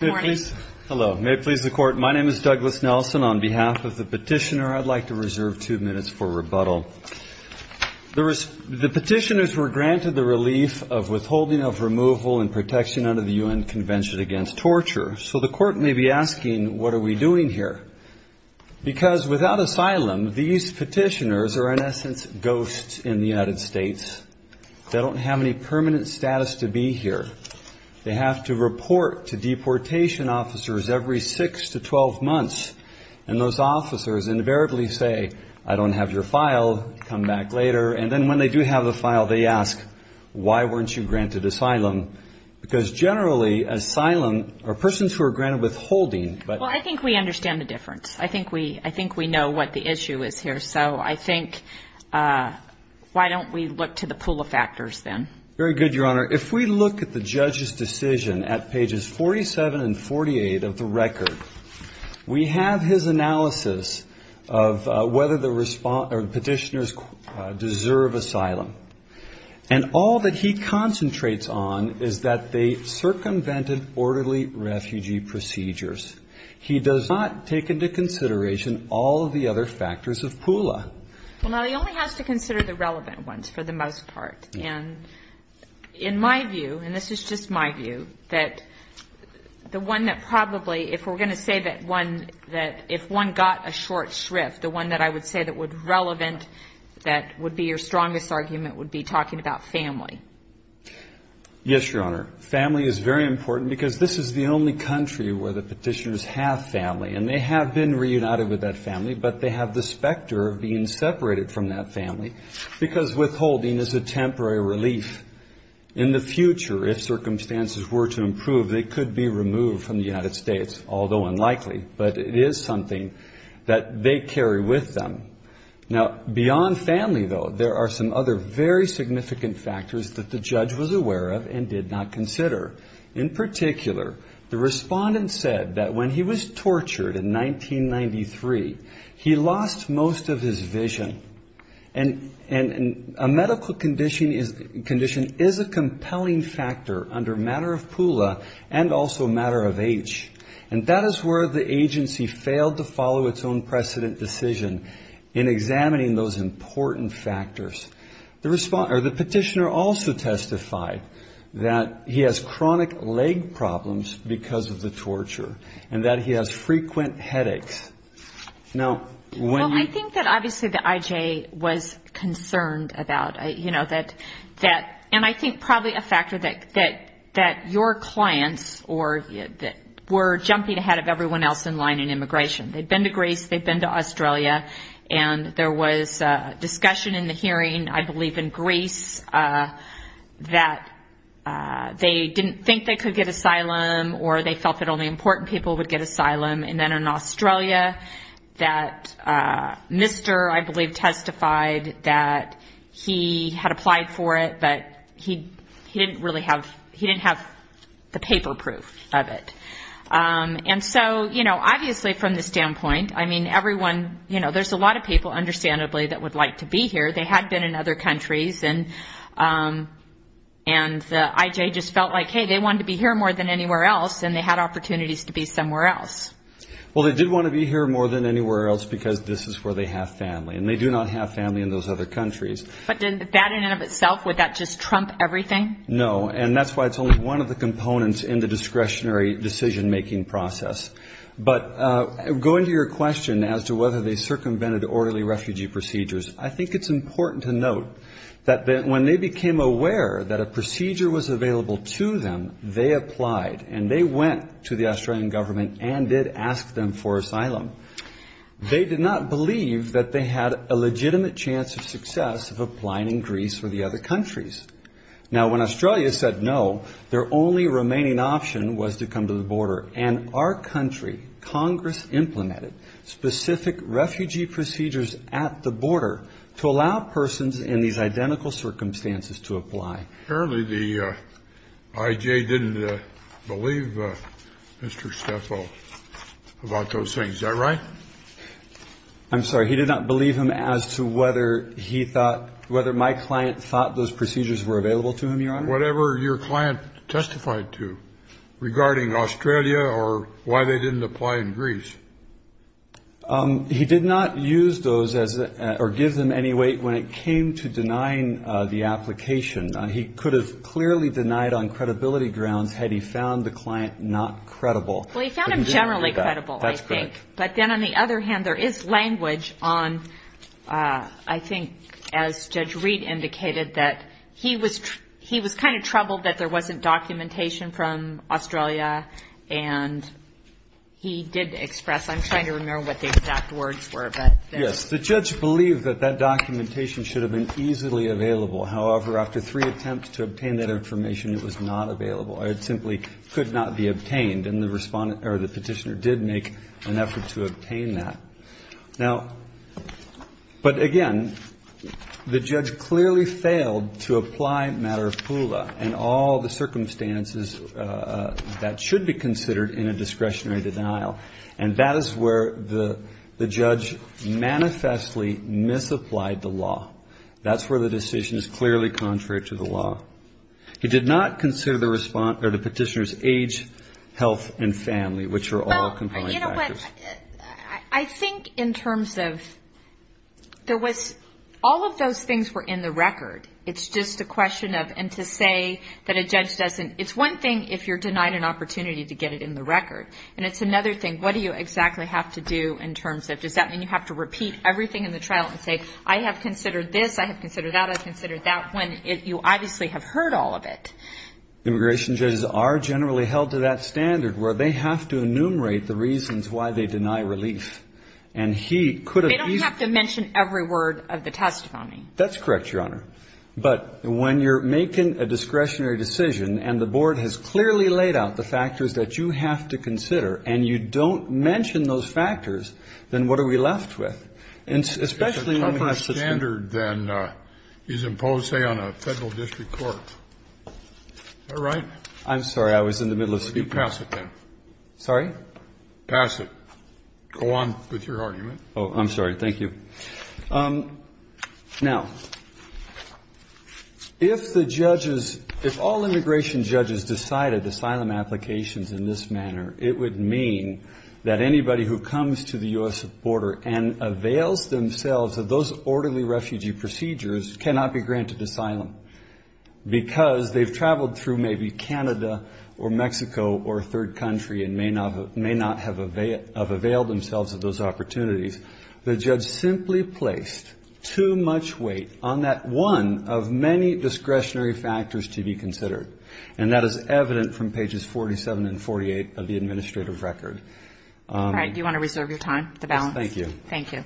May it please the Court, my name is Douglas Nelson. On behalf of the petitioner, I'd like to reserve two minutes for rebuttal. The petitioners were granted the relief of withholding of removal and protection under the U.N. Convention Against Torture, so the Court may be asking what are we doing here? Because without asylum, these petitioners are in essence ghosts in the United States. They don't have any permanent status to be here. They have to report to deportation officers every six to twelve months, and those officers invariably say, I don't have your file, come back later. And then when they do have the file, they ask, why weren't you granted asylum? Because generally, asylum, or persons who are granted withholding, but... Well, I think we understand the difference. I think we, I think we know what the issue is here, so I think, why don't we look to the pool of factors then? Very good, Your Honor. If we look at the judge's decision at pages 47 and 48 of the record, we have his analysis of whether the petitioners deserve asylum. And all that he concentrates on is that they circumvented orderly refugee procedures. He does not take into consideration all of the other factors of PULA. Well, now, he only has to consider the relevant ones, for the most part. And in my view, and this is just my view, that the one that probably, if we're going to say that one, that if one got a short shrift, the one that I would say that would relevant, that would be your strongest argument would be talking about family. Yes, Your Honor. Family is very important, because this is the only country where the family, but they have the specter of being separated from that family, because withholding is a temporary relief. In the future, if circumstances were to improve, they could be removed from the United States, although unlikely, but it is something that they carry with them. Now, beyond family, though, there are some other very significant factors that the judge was aware of and did not consider. In particular, the respondent said that when he was tortured in 1993, he lost most of his vision. And a medical condition is a compelling factor under matter of PULA and also matter of age. And that is where the agency failed to follow its own precedent decision in examining those important factors. The petitioner also testified that he has chronic leg problems because of the torture and that he has frequent headaches. Well, I think that obviously the IJ was concerned about, you know, that, and I think probably a factor that your clients were jumping ahead of everyone else in line in immigration. They had been to Greece, they had been to Australia, and there was discussion in the hearing, I believe in Greece, that they didn't think they could get asylum or they felt it only important people would get asylum. And then in Australia, that mister, I believe, testified that he had applied for it, but he didn't really have, he didn't have the paper proof of it. And so, you know, obviously from the standpoint, I mean, everyone, you know, there's a lot of people, understandably, that would like to be here. They had been in other countries and the IJ just felt like, hey, they wanted to be here more than anywhere else, and they had opportunities to be somewhere else. Well, they did want to be here more than anywhere else because this is where they have family, and they do not have family in those other countries. But didn't that in and of itself, would that just trump everything? No, and that's why it's only one of the components in the discretionary decision-making process. But going to your question as to whether they circumvented orderly refugee procedures, I think it's important to note that when they became aware that a procedure was available to them, they applied, and they went to the Australian government and did ask them for asylum. They did not believe that they had a legitimate chance of success of applying in Greece or the other countries. Now when Australia said no, their only remaining option was to come to the border. And our country, Congress implemented specific refugee procedures at the border to allow persons in these identical circumstances to apply. Apparently the IJ didn't believe Mr. Stefo about those things, is that right? I'm sorry, he did not believe him as to whether he thought, whether my client thought those procedures were available to him, Your Honor? Whatever your client testified to regarding Australia or why they didn't apply in Greece. He did not use those or give them any weight when it came to denying the application. He could have clearly denied on credibility grounds had he found the client not credible. Well, he found them generally credible, I think. That's correct. But then on the other hand, there is language on, I think, as Judge Reid indicated, that he was kind of troubled that there wasn't documentation from Australia. And he did express, I'm trying to remember what the exact words were. Yes, the judge believed that that documentation should have been easily available. However, after three attempts to obtain that information, it was not available. It simply could not be obtained. And the respondent or the petitioner did make an effort to obtain that. Now, but again, the judge clearly failed to apply matter of Pula and all the circumstances that should be considered in a discretionary denial. And that is where the judge manifestly misapplied the law. That's where the decision is clearly contrary to the law. He did not consider the respondent or the petitioner's age, health and family, which are all compliant factors. I think in terms of there was all of those things were in the record. It's just a question of and to say that a judge doesn't. It's one thing if you're denied an opportunity to get it in the record. And it's another thing. What do you exactly have to do in terms of does that mean you have to repeat everything in the trial and say, I have considered this, I have considered that I've considered that when you obviously have heard all of it. Immigration judges are generally held to that standard where they have to enumerate the reasons why they deny relief. And he could have to mention every word of the testimony. That's correct, Your Honor. But when you're making a discretionary decision and the board has clearly laid out the reasons why you have to consider and you don't mention those factors, then what are we left with? And especially when my sister. A tougher standard than is imposed, say, on a federal district court. All right. I'm sorry. I was in the middle of speaking. You pass it then. Sorry? Pass it. Go on with your argument. Oh, I'm sorry. Thank you. Now, if the judges, if all immigration judges decided asylum applications in this manner, it would mean that anybody who comes to the U.S. border and avails themselves of those orderly refugee procedures cannot be granted asylum because they've traveled through maybe Canada or Mexico or a third country and may not have availed themselves of those opportunities. The judge simply placed too much weight on that one of many discretionary factors to be considered. And that is evident from pages 47 and 48 of the administrative record. Do you want to reserve your time to balance? Thank you. Thank you.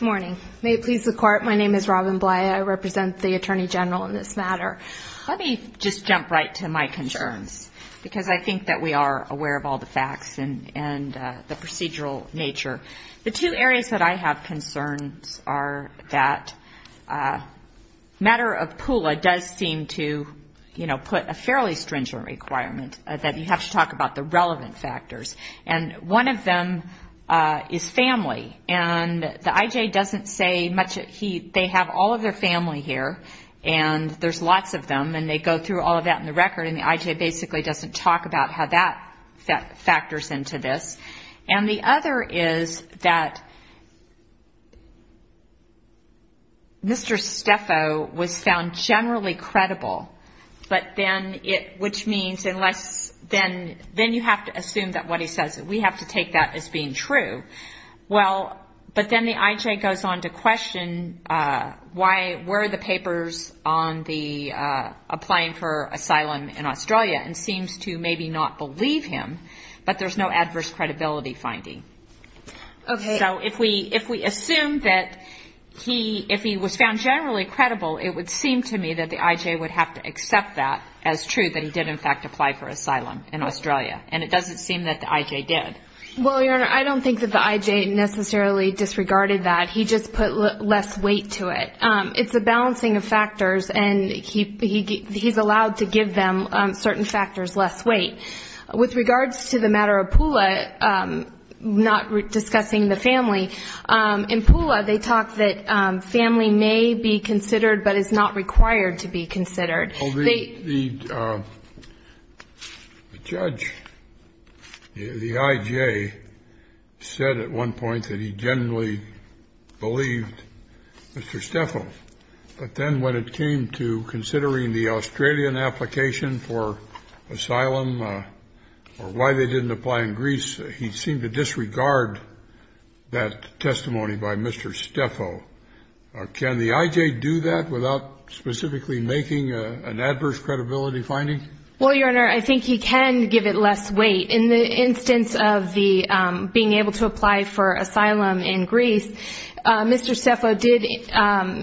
Morning. May it please the court. My name is Robin Bly. I represent the attorney general in this matter. Let me just jump right to my concerns because I think that we are aware of all the facts and the procedural nature. The two areas that I have concerns are that matter of PULA does seem to, you know, put a fairly stringent requirement that you have to talk about the relevant factors. And one of them is family. And the IJ doesn't say much. They have all of their family here and there's lots of them and they go through all of that in the record. And the IJ basically doesn't talk about how that factors into this. And the other is that Mr. Stefo was found generally credible. But then it which means unless then then you have to assume that what he says we have to take that as being true. Well but then the IJ goes on to question why were the papers on the applying for asylum in Australia and seems to maybe not believe him. But there's no adverse credibility finding. Okay. So if we if we assume that he if he was found generally credible it would seem to me that the IJ would have to accept that as true that he did in fact apply for asylum in Australia. And it doesn't seem that the IJ did. Well your honor I don't think that the IJ necessarily disregarded that. He just put less weight to it. It's a balancing of factors and he he he's allowed to give them certain factors less weight. With regards to the matter of Pula not discussing the family in Pula they talked that family may be considered but is not required to be considered. The judge the IJ said at one point that he generally believed Mr. Steffel but then when it came to considering the Australian application for asylum or why they didn't apply in Greece he seemed to disregard that testimony by Mr. Steffel. Can the IJ do that without specifically making an adverse credibility finding. Well your honor I think he can give it less weight in the instance of the being able to apply for asylum in Greece. Mr. Steffel did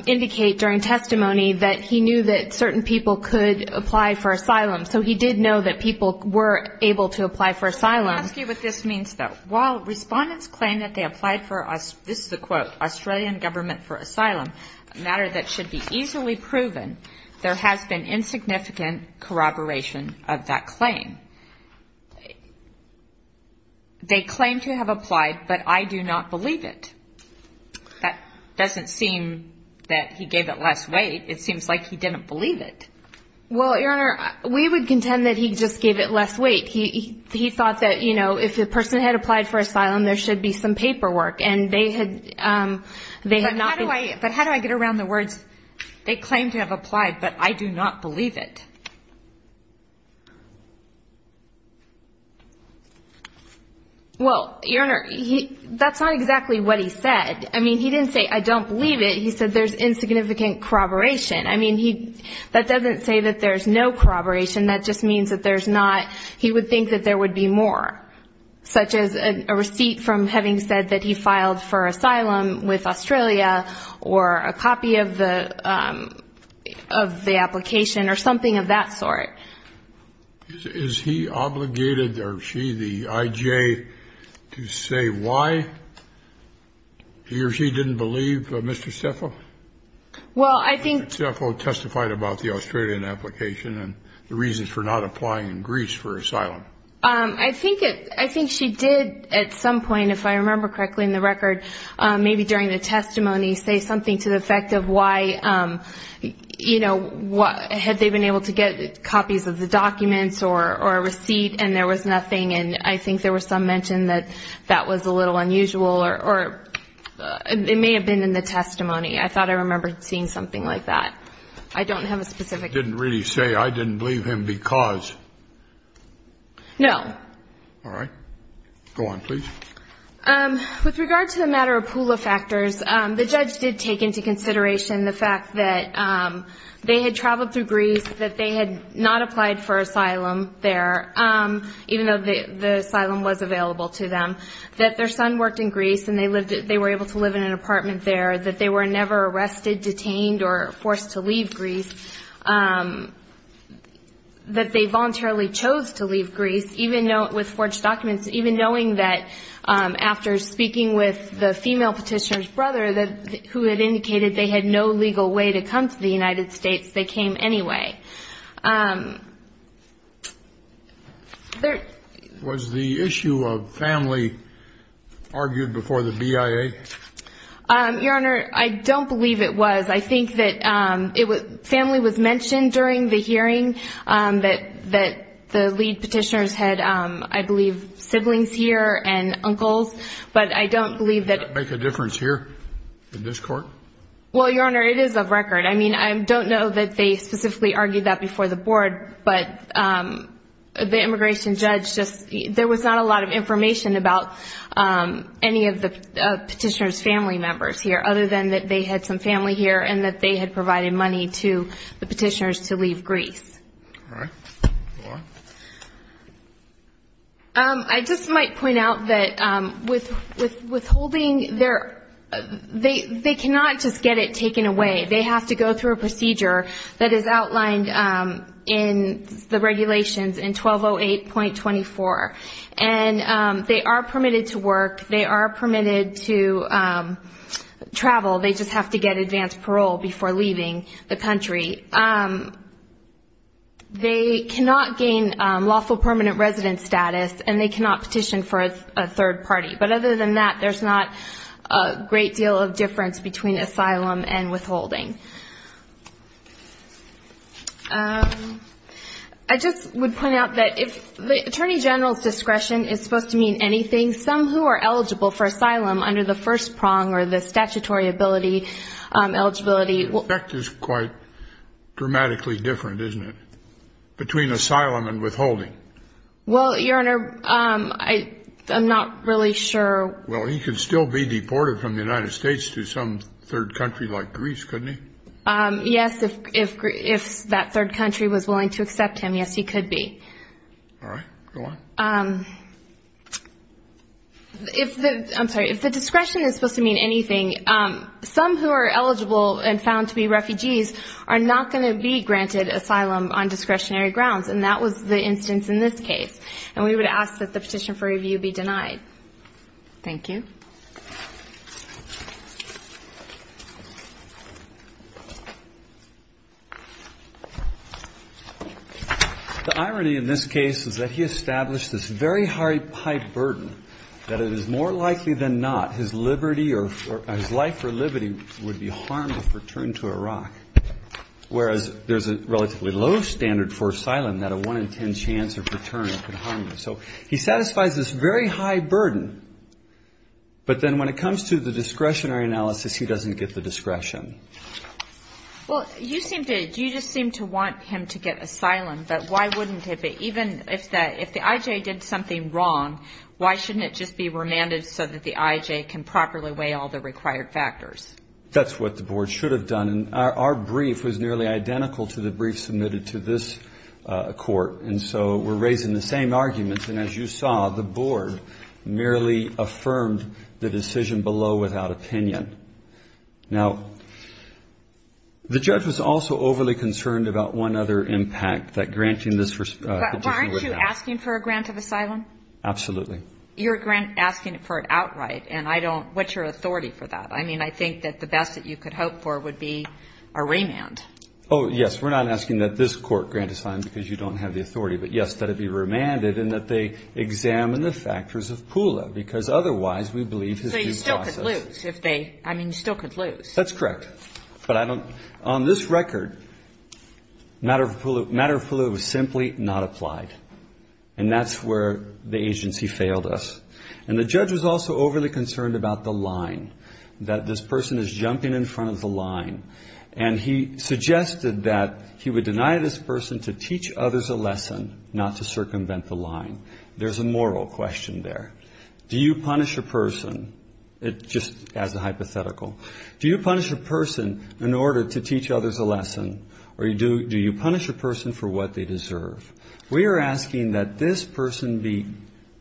indicate during testimony that he knew that certain people could apply for asylum. So he did know that people were able to apply for asylum. I'll ask you what this means though. While respondents claim that they applied for us this is a quote Australian government for asylum a matter that should be easily proven there has been insignificant corroboration of that claim. They claim to have applied but I do not believe it. That doesn't seem that he gave it less weight. It seems like he didn't believe it. Well your honor we would contend that he just gave it less weight. He he thought that you know if the person had applied for asylum there should be some paperwork and they had they had not. Why but how do I get around the words they claim to have applied but I do not believe it. Well your honor he that's not exactly what he said. I mean he didn't say I don't believe it. He said there's insignificant corroboration. I mean he that doesn't say that there's no corroboration. That just means that there's not. He would think that there would be more such as a receipt from having said that he filed for asylum with Australia or a copy of the of the application or something of that sort. Is he obligated or she the IJ to say why he or she didn't believe Mr. Jeff. Well I think Jeff testified about the Australian application and the reasons for not applying in Greece for asylum. I think I think she did at some point if I remember correctly in the record maybe during the testimony say something to the effect of why you know what had they been able to get copies of the documents or a receipt and there was nothing and I think there was some mention that that was a little unusual or it may have been in the testimony. I thought I remember seeing something like that. I don't have a specific didn't really say I didn't believe him because no. All right. Go on please. With regard to the matter of pool of factors the judge did take into consideration the fact that they had traveled through Greece that they had not applied for asylum there even though the asylum was available to them that their son worked in Greece and they lived that they were able to live in an apartment there that they were never arrested detained or forced to leave Greece that they voluntarily chose to leave Greece even with forged documents even knowing that after speaking with the female petitioner's brother that who had indicated they had no legal way to come to the United States they came anyway. And there was the issue of family argued before the BIA. Your Honor I don't believe it was I think that it was family was mentioned during the hearing that that the lead petitioners had I believe siblings here and uncles but I don't believe that make a difference here in this court. Well Your Honor it is a record I mean I don't know that they specifically argued that before the board but the immigration judge just there was not a lot of information about any of the petitioners family members here other than that they had some family here and that they had provided money to the petitioners to leave Greece. I just might point out that with withholding their they they cannot just get it taken away they have to go through a procedure that is outlined in the regulations in 1208.24 and they are permitted to work they are permitted to travel they just have to get advanced parole before leaving the country. They cannot gain lawful permanent residence status and they cannot petition for a third party but other than that there's not a great deal of difference between asylum and withholding. I just would point out that if the Attorney General's discretion is supposed to mean anything some who are eligible for asylum under the statutory ability eligibility is quite dramatically different isn't it between asylum and withholding. Well Your Honor I am not really sure. Well he could still be deported from the United States to some third country like Greece couldn't he. Yes if if if that third country was willing to accept him yes he could be. All right go on. If I'm sorry if the discretion is supposed to mean anything some who are eligible and found to be refugees are not going to be granted asylum on discretionary grounds and that was the instance in this case and we would ask that the petition for review be denied. Thank you. The irony in this case is that he established this very high burden that it is more likely than not his liberty or his life for liberty would be harmed if returned to Iraq whereas there's a relatively low standard for asylum that a 1 in 10 chance of return could harm him. So he satisfies this very high burden but then when it comes to the discretionary analysis he doesn't get the discretion. Well you seem to you just seem to want him to get asylum. But why wouldn't it be even if that if the IJ did something wrong why shouldn't it just be remanded so that the IJ can properly weigh all the required factors. That's what the board should have done and our brief was nearly identical to the brief submitted to this court. And so we're raising the same arguments and as you saw the board merely affirmed the decision below without opinion. Now the judge was also overly concerned about one other impact that granting this. Weren't you asking for a grant of asylum. Absolutely. Your grant asking for it outright and I don't what's your authority for that. I mean I think that the best that you could hope for would be a remand. Oh yes. We're not asking that this court grant asylum because you don't have the authority but yes that it be remanded and that they examine the factors of Pula because otherwise we believe that you still could lose if they I mean you still could lose. That's correct. But I don't on this record matter of matter of Pula was simply not applied and that's where the agency failed us. And the judge was also overly concerned about the line that this person is jumping in front of the line. And he suggested that he would deny this person to teach others a lesson not to circumvent the line. There's a moral question there. Do you punish a person. It just as a hypothetical. Do you punish a person in order to teach others a lesson or do you punish a person for what they deserve. We are asking that this person be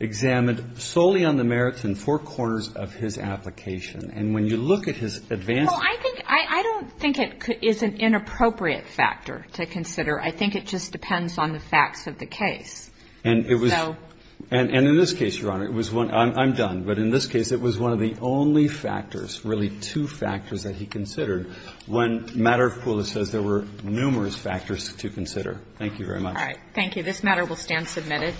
examined solely on the merits and four corners of his application. And when you look at his advance I think I don't think it is an inappropriate factor to consider. I think it just depends on the facts of the case. And it was and in this case Your Honor it was one I'm done. But in this case it was one of the only factors really two factors that he considered when matter of Pula says there were numerous factors to consider. Thank you very much. Thank you. This matter will stand submitted.